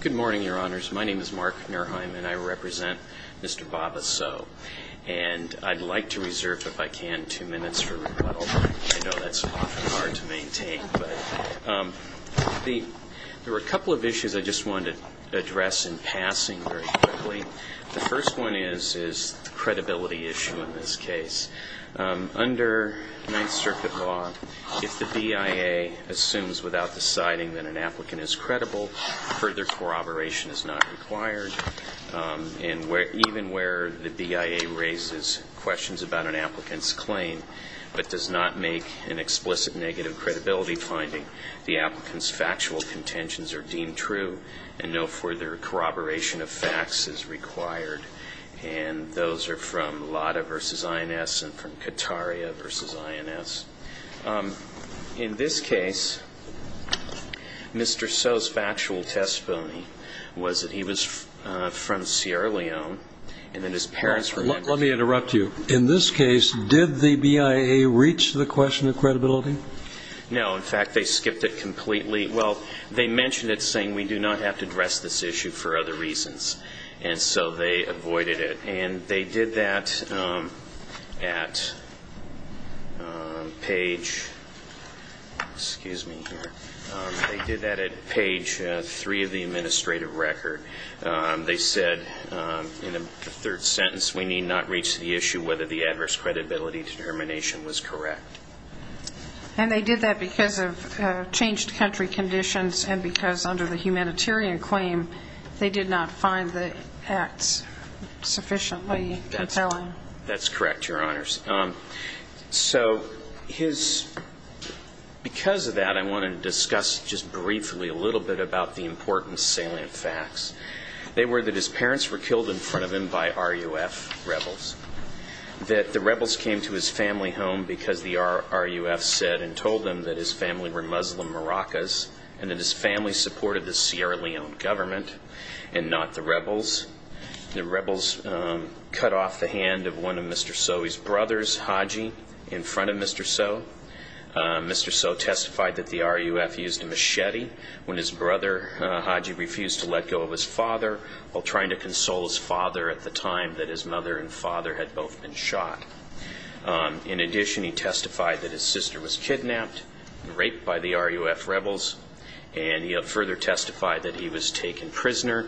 Good morning, Your Honors. My name is Mark Nerheim, and I represent Mr. Baba Sowe. And I'd like to reserve, if I can, two minutes for rebuttal. I know that's often hard to maintain. There were a couple of issues I just wanted to address in passing very quickly. The first one is the credibility issue in this case. Under Ninth Circuit law, if the BIA assumes without deciding that an applicant is credible, further corroboration is not required. And even where the BIA raises questions about an applicant's claim, but does not make an explicit negative credibility finding, the applicant's factual contentions are deemed true, and no further corroboration of facts is required. And those are from Lada v. INS and from Kataria v. INS. In this case, Mr. Sowe's factual testimony was that he was from Sierra Leone, and that his parents were members of the BIA. Let me interrupt you. In this case, did the BIA reach the question of credibility? No. In fact, they skipped it completely. Well, they mentioned it, saying, we do not have to address this issue for other reasons. And so they avoided it. And they did that at page three of the administrative record. They said in the third sentence, we need not reach the issue whether the adverse credibility determination was correct. And they did that because of changed country conditions and because under the humanitarian claim, they did not find the acts sufficiently compelling. That's correct, Your Honors. So because of that, I want to discuss just briefly a little bit about the important salient facts. They were that his parents were killed in front of him by RUF rebels, that the rebels came to his family home because the RUF said and told them that his family were Muslim Maracas, and that his family supported the Sierra Leone government and not the rebels. The rebels cut off the hand of one of Mr. Sowe's brothers, Haji, in front of Mr. Sowe. Mr. Sowe testified that the RUF used a machete when his brother Haji refused to let go of his father while trying to console his father at the time that his mother and father had both been shot. In addition, he testified that his sister was kidnapped and raped by the RUF rebels, and he further testified that he was taken prisoner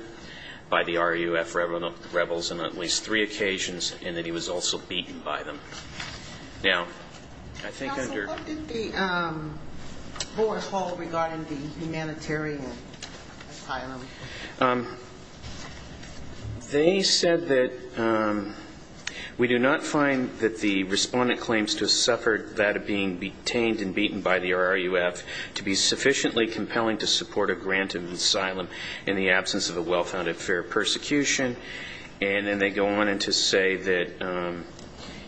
by the RUF rebels on at least three occasions and that he was also beaten by them. Now, I think under- Counsel, what did the board hold regarding the humanitarian asylum? They said that we do not find that the respondent claims to have suffered that of being detained and beaten by the RUF to be sufficiently compelling to support a grant of asylum in the absence of a well-founded fair persecution. And then they go on to say that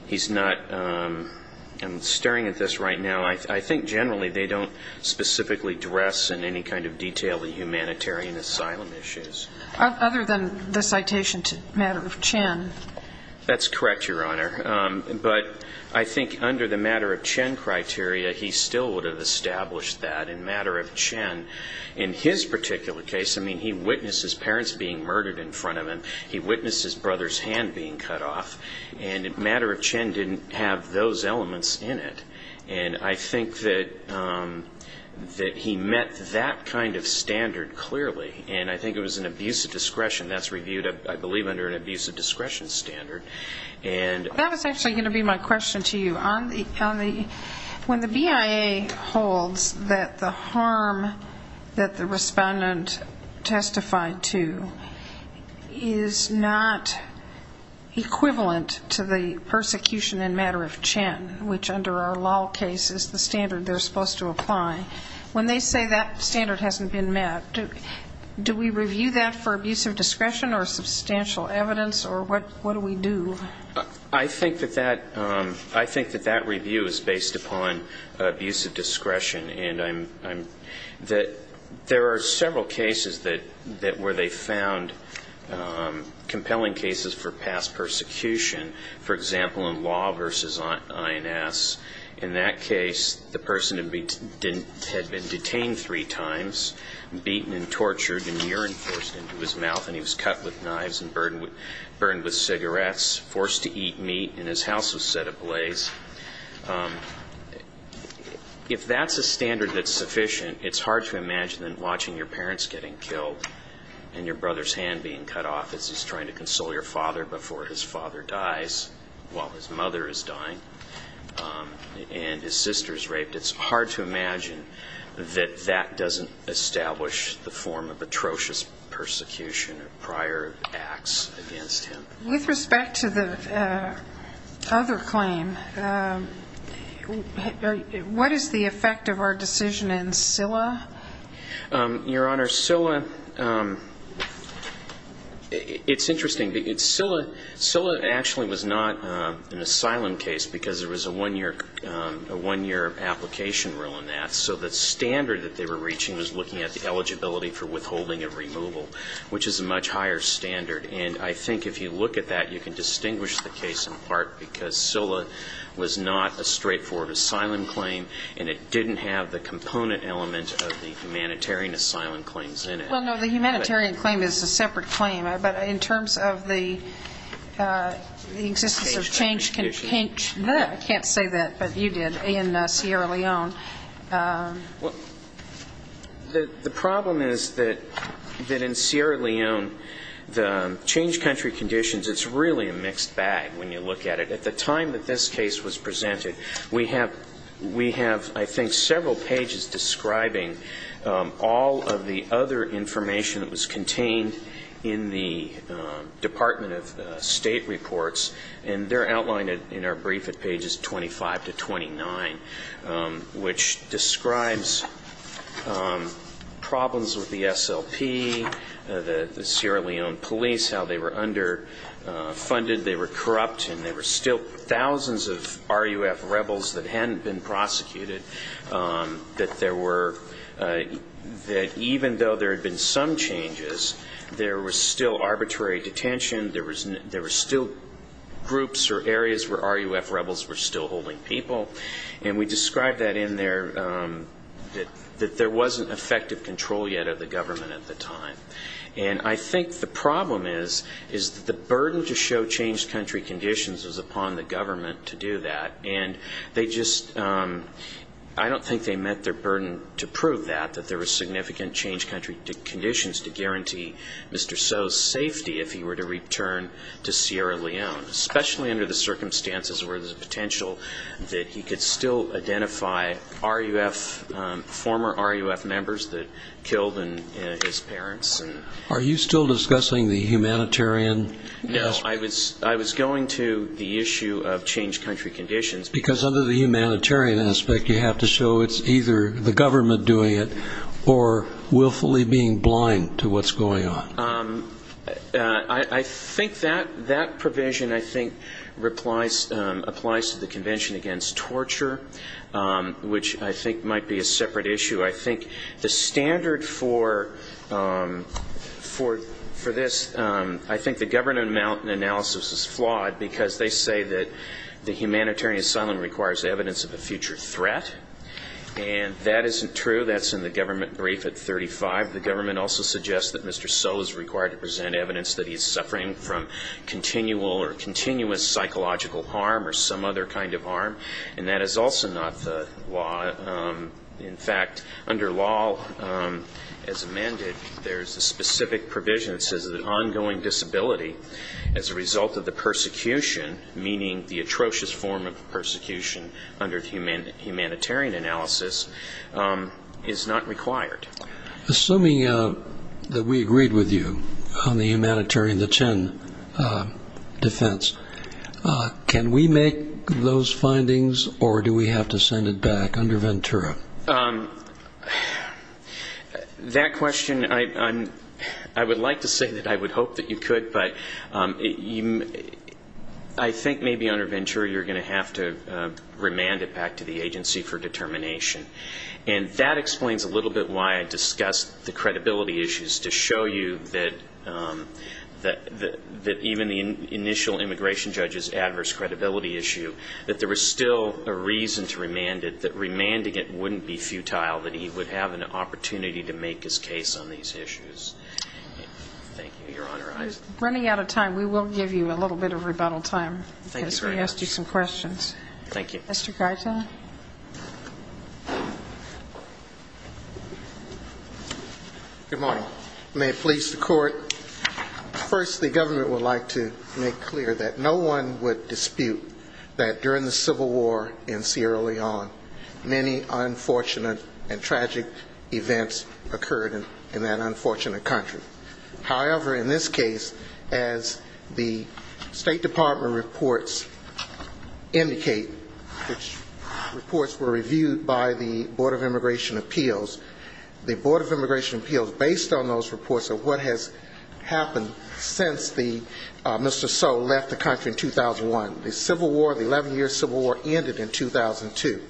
he's not-I'm staring at this right now. I think generally they don't specifically dress in any kind of detail the humanitarian asylum issues. Other than the citation to Matter of Chen. That's correct, Your Honor. But I think under the Matter of Chen criteria, he still would have established that in Matter of Chen. In his particular case, I mean, he witnessed his parents being murdered in front of him. He witnessed his brother's hand being cut off. And Matter of Chen didn't have those elements in it. And I think that he met that kind of standard clearly, and I think it was an abuse of discretion. That's reviewed, I believe, under an abuse of discretion standard. That was actually going to be my question to you. When the BIA holds that the harm that the respondent testified to is not equivalent to the persecution in Matter of Chen, which under our law case is the standard they're supposed to apply, when they say that standard hasn't been met, do we review that for abuse of discretion or substantial evidence, or what do we do? I think that that review is based upon abuse of discretion. And there are several cases where they found compelling cases for past persecution. For example, in Law v. INS, in that case, the person had been detained three times, beaten and tortured and urine forced into his mouth, and he was cut with knives and burned with cigarettes, forced to eat meat, and his house was set ablaze. If that's a standard that's sufficient, it's hard to imagine that watching your parents getting killed and your brother's hand being cut off as he's trying to console your father before his father dies, while his mother is dying, and his sister is raped, it's hard to imagine that that doesn't establish the form of atrocious persecution of prior acts against him. With respect to the other claim, what is the effect of our decision in CILA? Your Honor, CILA, it's interesting. CILA actually was not an asylum case because there was a one-year application rule in that, so the standard that they were reaching was looking at the eligibility for withholding of removal, which is a much higher standard. And I think if you look at that, you can distinguish the case in part because CILA was not a straightforward asylum claim, and it didn't have the component element of the humanitarian asylum claims in it. Well, no, the humanitarian claim is a separate claim, but in terms of the existence of change country conditions, I can't say that, but you did in Sierra Leone. The problem is that in Sierra Leone, the change country conditions, it's really a mixed bag when you look at it. At the time that this case was presented, we have, I think, several pages describing all of the other information that was contained in the Department of State reports, and they're outlined in our brief at pages 25 to 29, which describes problems with the SLP, the Sierra Leone police, how they were underfunded, they were corrupt, and there were still thousands of RUF rebels that hadn't been prosecuted, that even though there had been some changes, there was still arbitrary detention, there were still groups or areas where RUF rebels were still holding people, and we describe that in there that there wasn't effective control yet of the government at the time. And I think the problem is that the burden to show change country conditions is upon the government to do that, and they just, I don't think they met their burden to prove that, that there was significant change country conditions to guarantee Mr. So's safety if he were to return to Sierra Leone, especially under the circumstances where there's a potential that he could still identify RUF, former RUF members that killed his parents. Are you still discussing the humanitarian aspect? No, I was going to the issue of change country conditions. Because under the humanitarian aspect you have to show it's either the government doing it or willfully being blind to what's going on. I think that provision, I think, applies to the Convention Against Torture, which I think might be a separate issue. I think the standard for this, I think the government analysis is flawed because they say that the humanitarian asylum requires evidence of a future threat, and that isn't true, that's in the government brief at 35. The government also suggests that Mr. So is required to present evidence that he's suffering from continual or continuous psychological harm or some other kind of harm, and that is also not the law. In fact, under law, as amended, there's a specific provision that says that ongoing disability as a result of the persecution, meaning the atrocious form of persecution under the humanitarian analysis, is not required. Assuming that we agreed with you on the humanitarian, the Chen defense, can we make those findings or do we have to send it back under Ventura? That question, I would like to say that I would hope that you could, but I think maybe under Ventura you're going to have to remand it back to the agency for determination. And that explains a little bit why I discussed the credibility issues, to show you that even the initial immigration judge's adverse credibility issue, that there was still a reason to remand it, that remanding it wouldn't be futile, that he would have an opportunity to make his case on these issues. Thank you. You're honorized. We're running out of time. We will give you a little bit of rebuttal time. Thank you very much. Because we asked you some questions. Thank you. Mr. Garza. Good morning. May it please the court. First, the government would like to make clear that no one would dispute that during the Civil War in Sierra Leone, many unfortunate and tragic events occurred in that unfortunate country. However, in this case, as the State Department reports indicate, which reports were reviewed by the Board of Immigration Appeals, the Board of Immigration Appeals, based on those reports of what has happened since Mr. So left the country in 2001, the Civil War, the 11-year Civil War ended in 2002.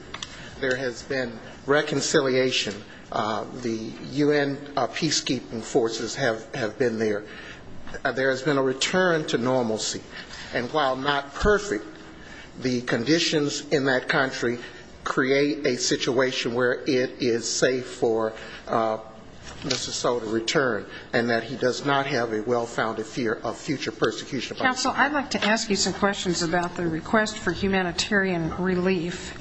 There has been reconciliation. The U.N. peacekeeping forces have been there. There has been a return to normalcy. And while not perfect, the conditions in that country create a situation where it is safe for Mr. So to return and that he does not have a well-founded fear of future persecution. Counsel, I'd like to ask you some questions about the request for humanitarian relief.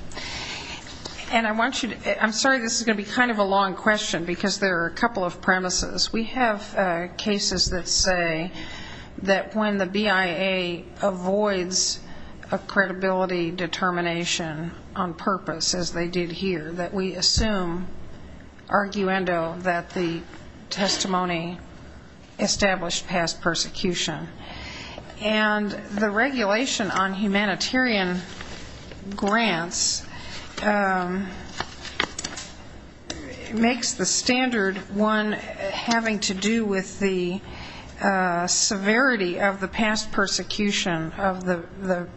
And I'm sorry this is going to be kind of a long question because there are a couple of premises. We have cases that say that when the BIA avoids a credibility determination on purpose, as they did here, that we assume arguendo that the testimony established past persecution. And the regulation on humanitarian grants makes the standard one having to do with the severity of the past persecution of the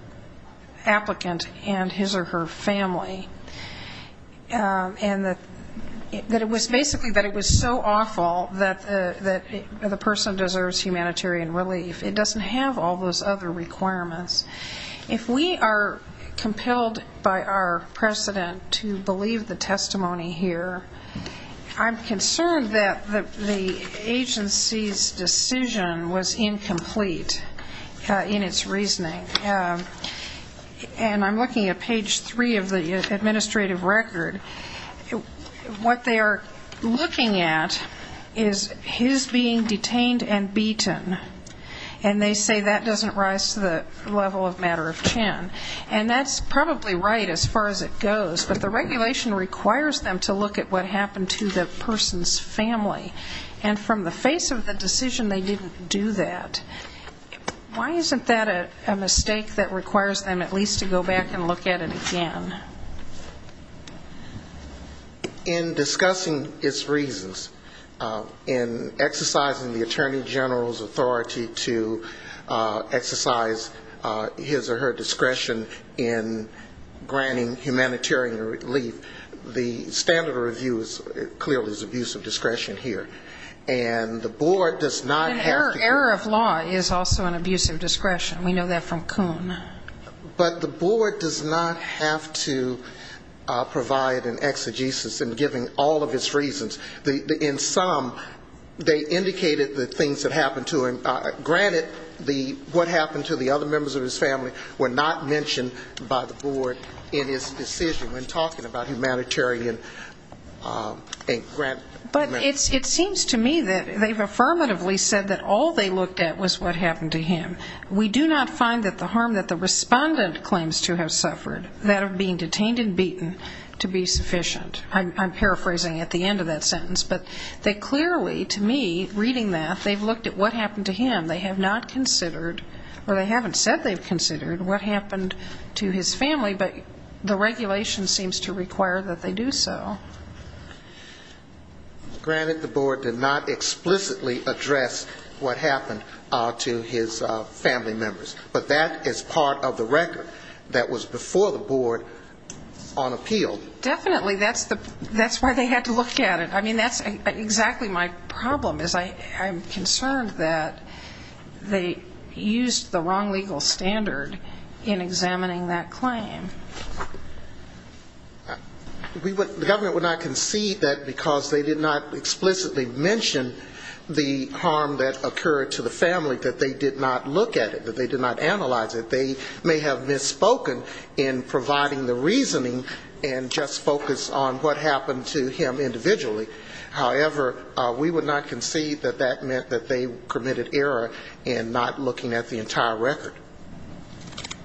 applicant and his or her family. And that it was basically that it was so awful that the person deserves humanitarian relief. It doesn't have all those other requirements. If we are compelled by our precedent to believe the testimony here, I'm concerned that the agency's decision was incomplete in its reasoning. And I'm looking at page three of the administrative record. What they are looking at is his being detained and beaten. And they say that doesn't rise to the level of matter of Chen. And that's probably right as far as it goes, but the regulation requires them to look at what happened to the person's family. And from the face of the decision, they didn't do that. Why isn't that a mistake that requires them at least to go back and look at it again? In discussing its reasons, in exercising the Attorney General's authority to exercise his or her discretion in granting humanitarian relief, the standard of review clearly is abuse of discretion here. And the board does not have to do that. Error of law is also an abuse of discretion. We know that from Coon. But the board does not have to provide an exegesis in giving all of its reasons. In sum, they indicated the things that happened to him. Granted, what happened to the other members of his family were not mentioned by the board in his decision when talking about humanitarian grant. But it seems to me that they've affirmatively said that all they looked at was what happened to him. We do not find that the harm that the respondent claims to have suffered, that of being detained and beaten, to be sufficient. I'm paraphrasing at the end of that sentence. But they clearly, to me, reading that, they've looked at what happened to him. They have not considered or they haven't said they've considered what happened to his family, but the regulation seems to require that they do so. Granted, the board did not explicitly address what happened to his family members. But that is part of the record that was before the board on appeal. Definitely. That's why they had to look at it. I mean, that's exactly my problem, is I'm concerned that they used the wrong legal standard in examining that claim. The government would not concede that because they did not explicitly mention the harm that occurred to the family, that they did not look at it, that they did not analyze it. That they may have misspoken in providing the reasoning and just focus on what happened to him individually. However, we would not concede that that meant that they committed error in not looking at the entire record.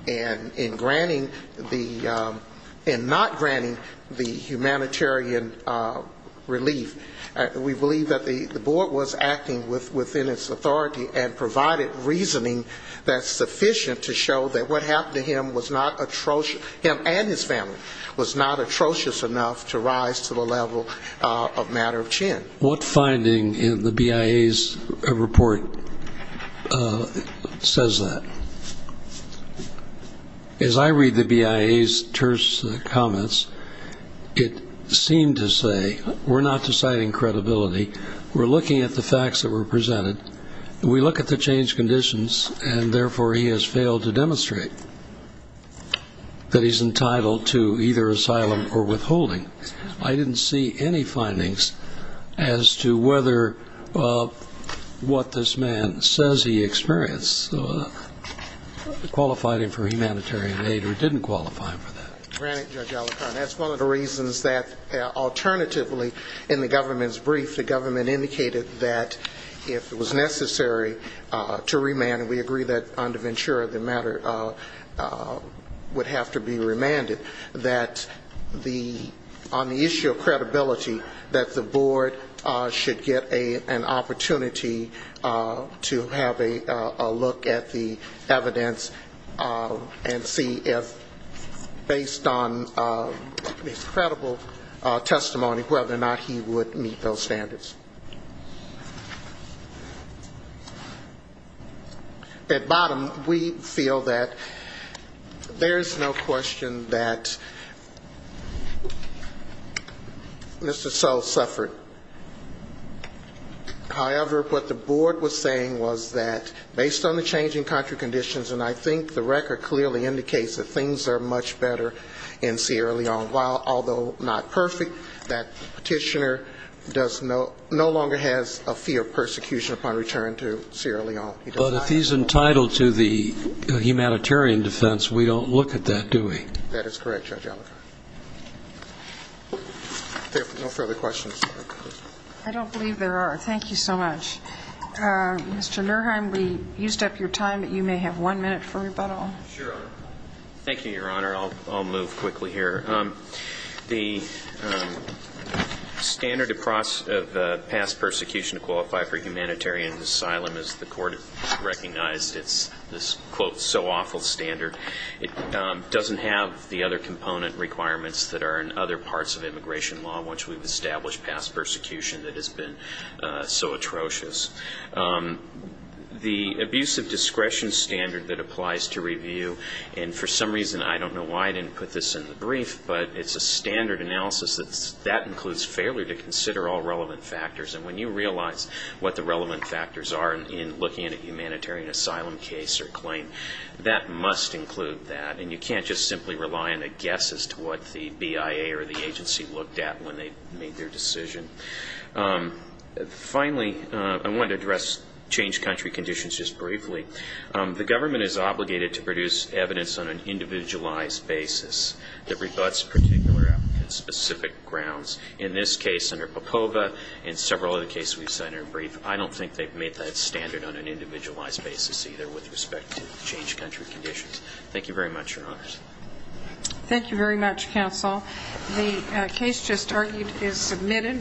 And in granting the, in not granting the humanitarian relief, we believe that the board was acting within its authority and provided reasoning that's sufficient to show that what happened to him was not atrocious, him and his family was not atrocious enough to rise to the level of matter of chin. What finding in the BIA's report says that? As I read the BIA's terse comments, it seemed to say we're not deciding credibility, we're looking at the facts that were presented, we look at the changed conditions, and therefore he has failed to demonstrate that he's entitled to either asylum or withholding. I didn't see any findings as to whether what this man says he experienced qualified him for humanitarian aid or didn't qualify him for that. Granted, Judge Alicorn, that's one of the reasons that alternatively in the government's brief, the government indicated that if it was necessary to remand, and we agree that under Ventura the matter would have to be remanded, that the, on the issue of credibility, that the board should get an opportunity to have a look at the evidence and see if, based on his credible testimony, whether or not he would meet those standards. At bottom, we feel that there's no question that Mr. So suffered. However, what the board was saying was that based on the changing country conditions, and I think the record clearly indicates that things are much better in Sierra Leone, although not perfect, that petitioner does no, no longer has a fee of persecution upon return to Sierra Leone. He does not have a fee of persecution. But if he's entitled to the humanitarian defense, we don't look at that, do we? That is correct, Judge Alicorn. I don't believe there are. Thank you so much. Mr. Nurheim, we used up your time, but you may have one minute for rebuttal. Sure. Thank you, Your Honor. I'll move quickly here. The standard of past persecution to qualify for humanitarian asylum, as the court has recognized, it's this, quote, so awful standard. It doesn't have the other component requirements that are in other parts of immigration law, which we've established past persecution that has been so atrocious. The abuse of discretion standard that applies to review, and for some reason, I don't know why I didn't put this in the brief, but it's a standard analysis that includes failure to consider all relevant factors. And when you realize what the relevant factors are in looking at a humanitarian asylum case or claim, that must include that, and you can't just simply rely on a guess as to what the BIA or the agency looked at when they made their decision. Finally, I want to address changed country conditions just briefly. The government is obligated to produce evidence on an individualized basis that rebutts particular applicants' specific grounds. In this case under Popova and several other cases we've cited in brief, I don't think they've made that standard on an individualized basis either with respect to changed country conditions. Thank you very much, Your Honors. Thank you very much, counsel. The case just argued is submitted.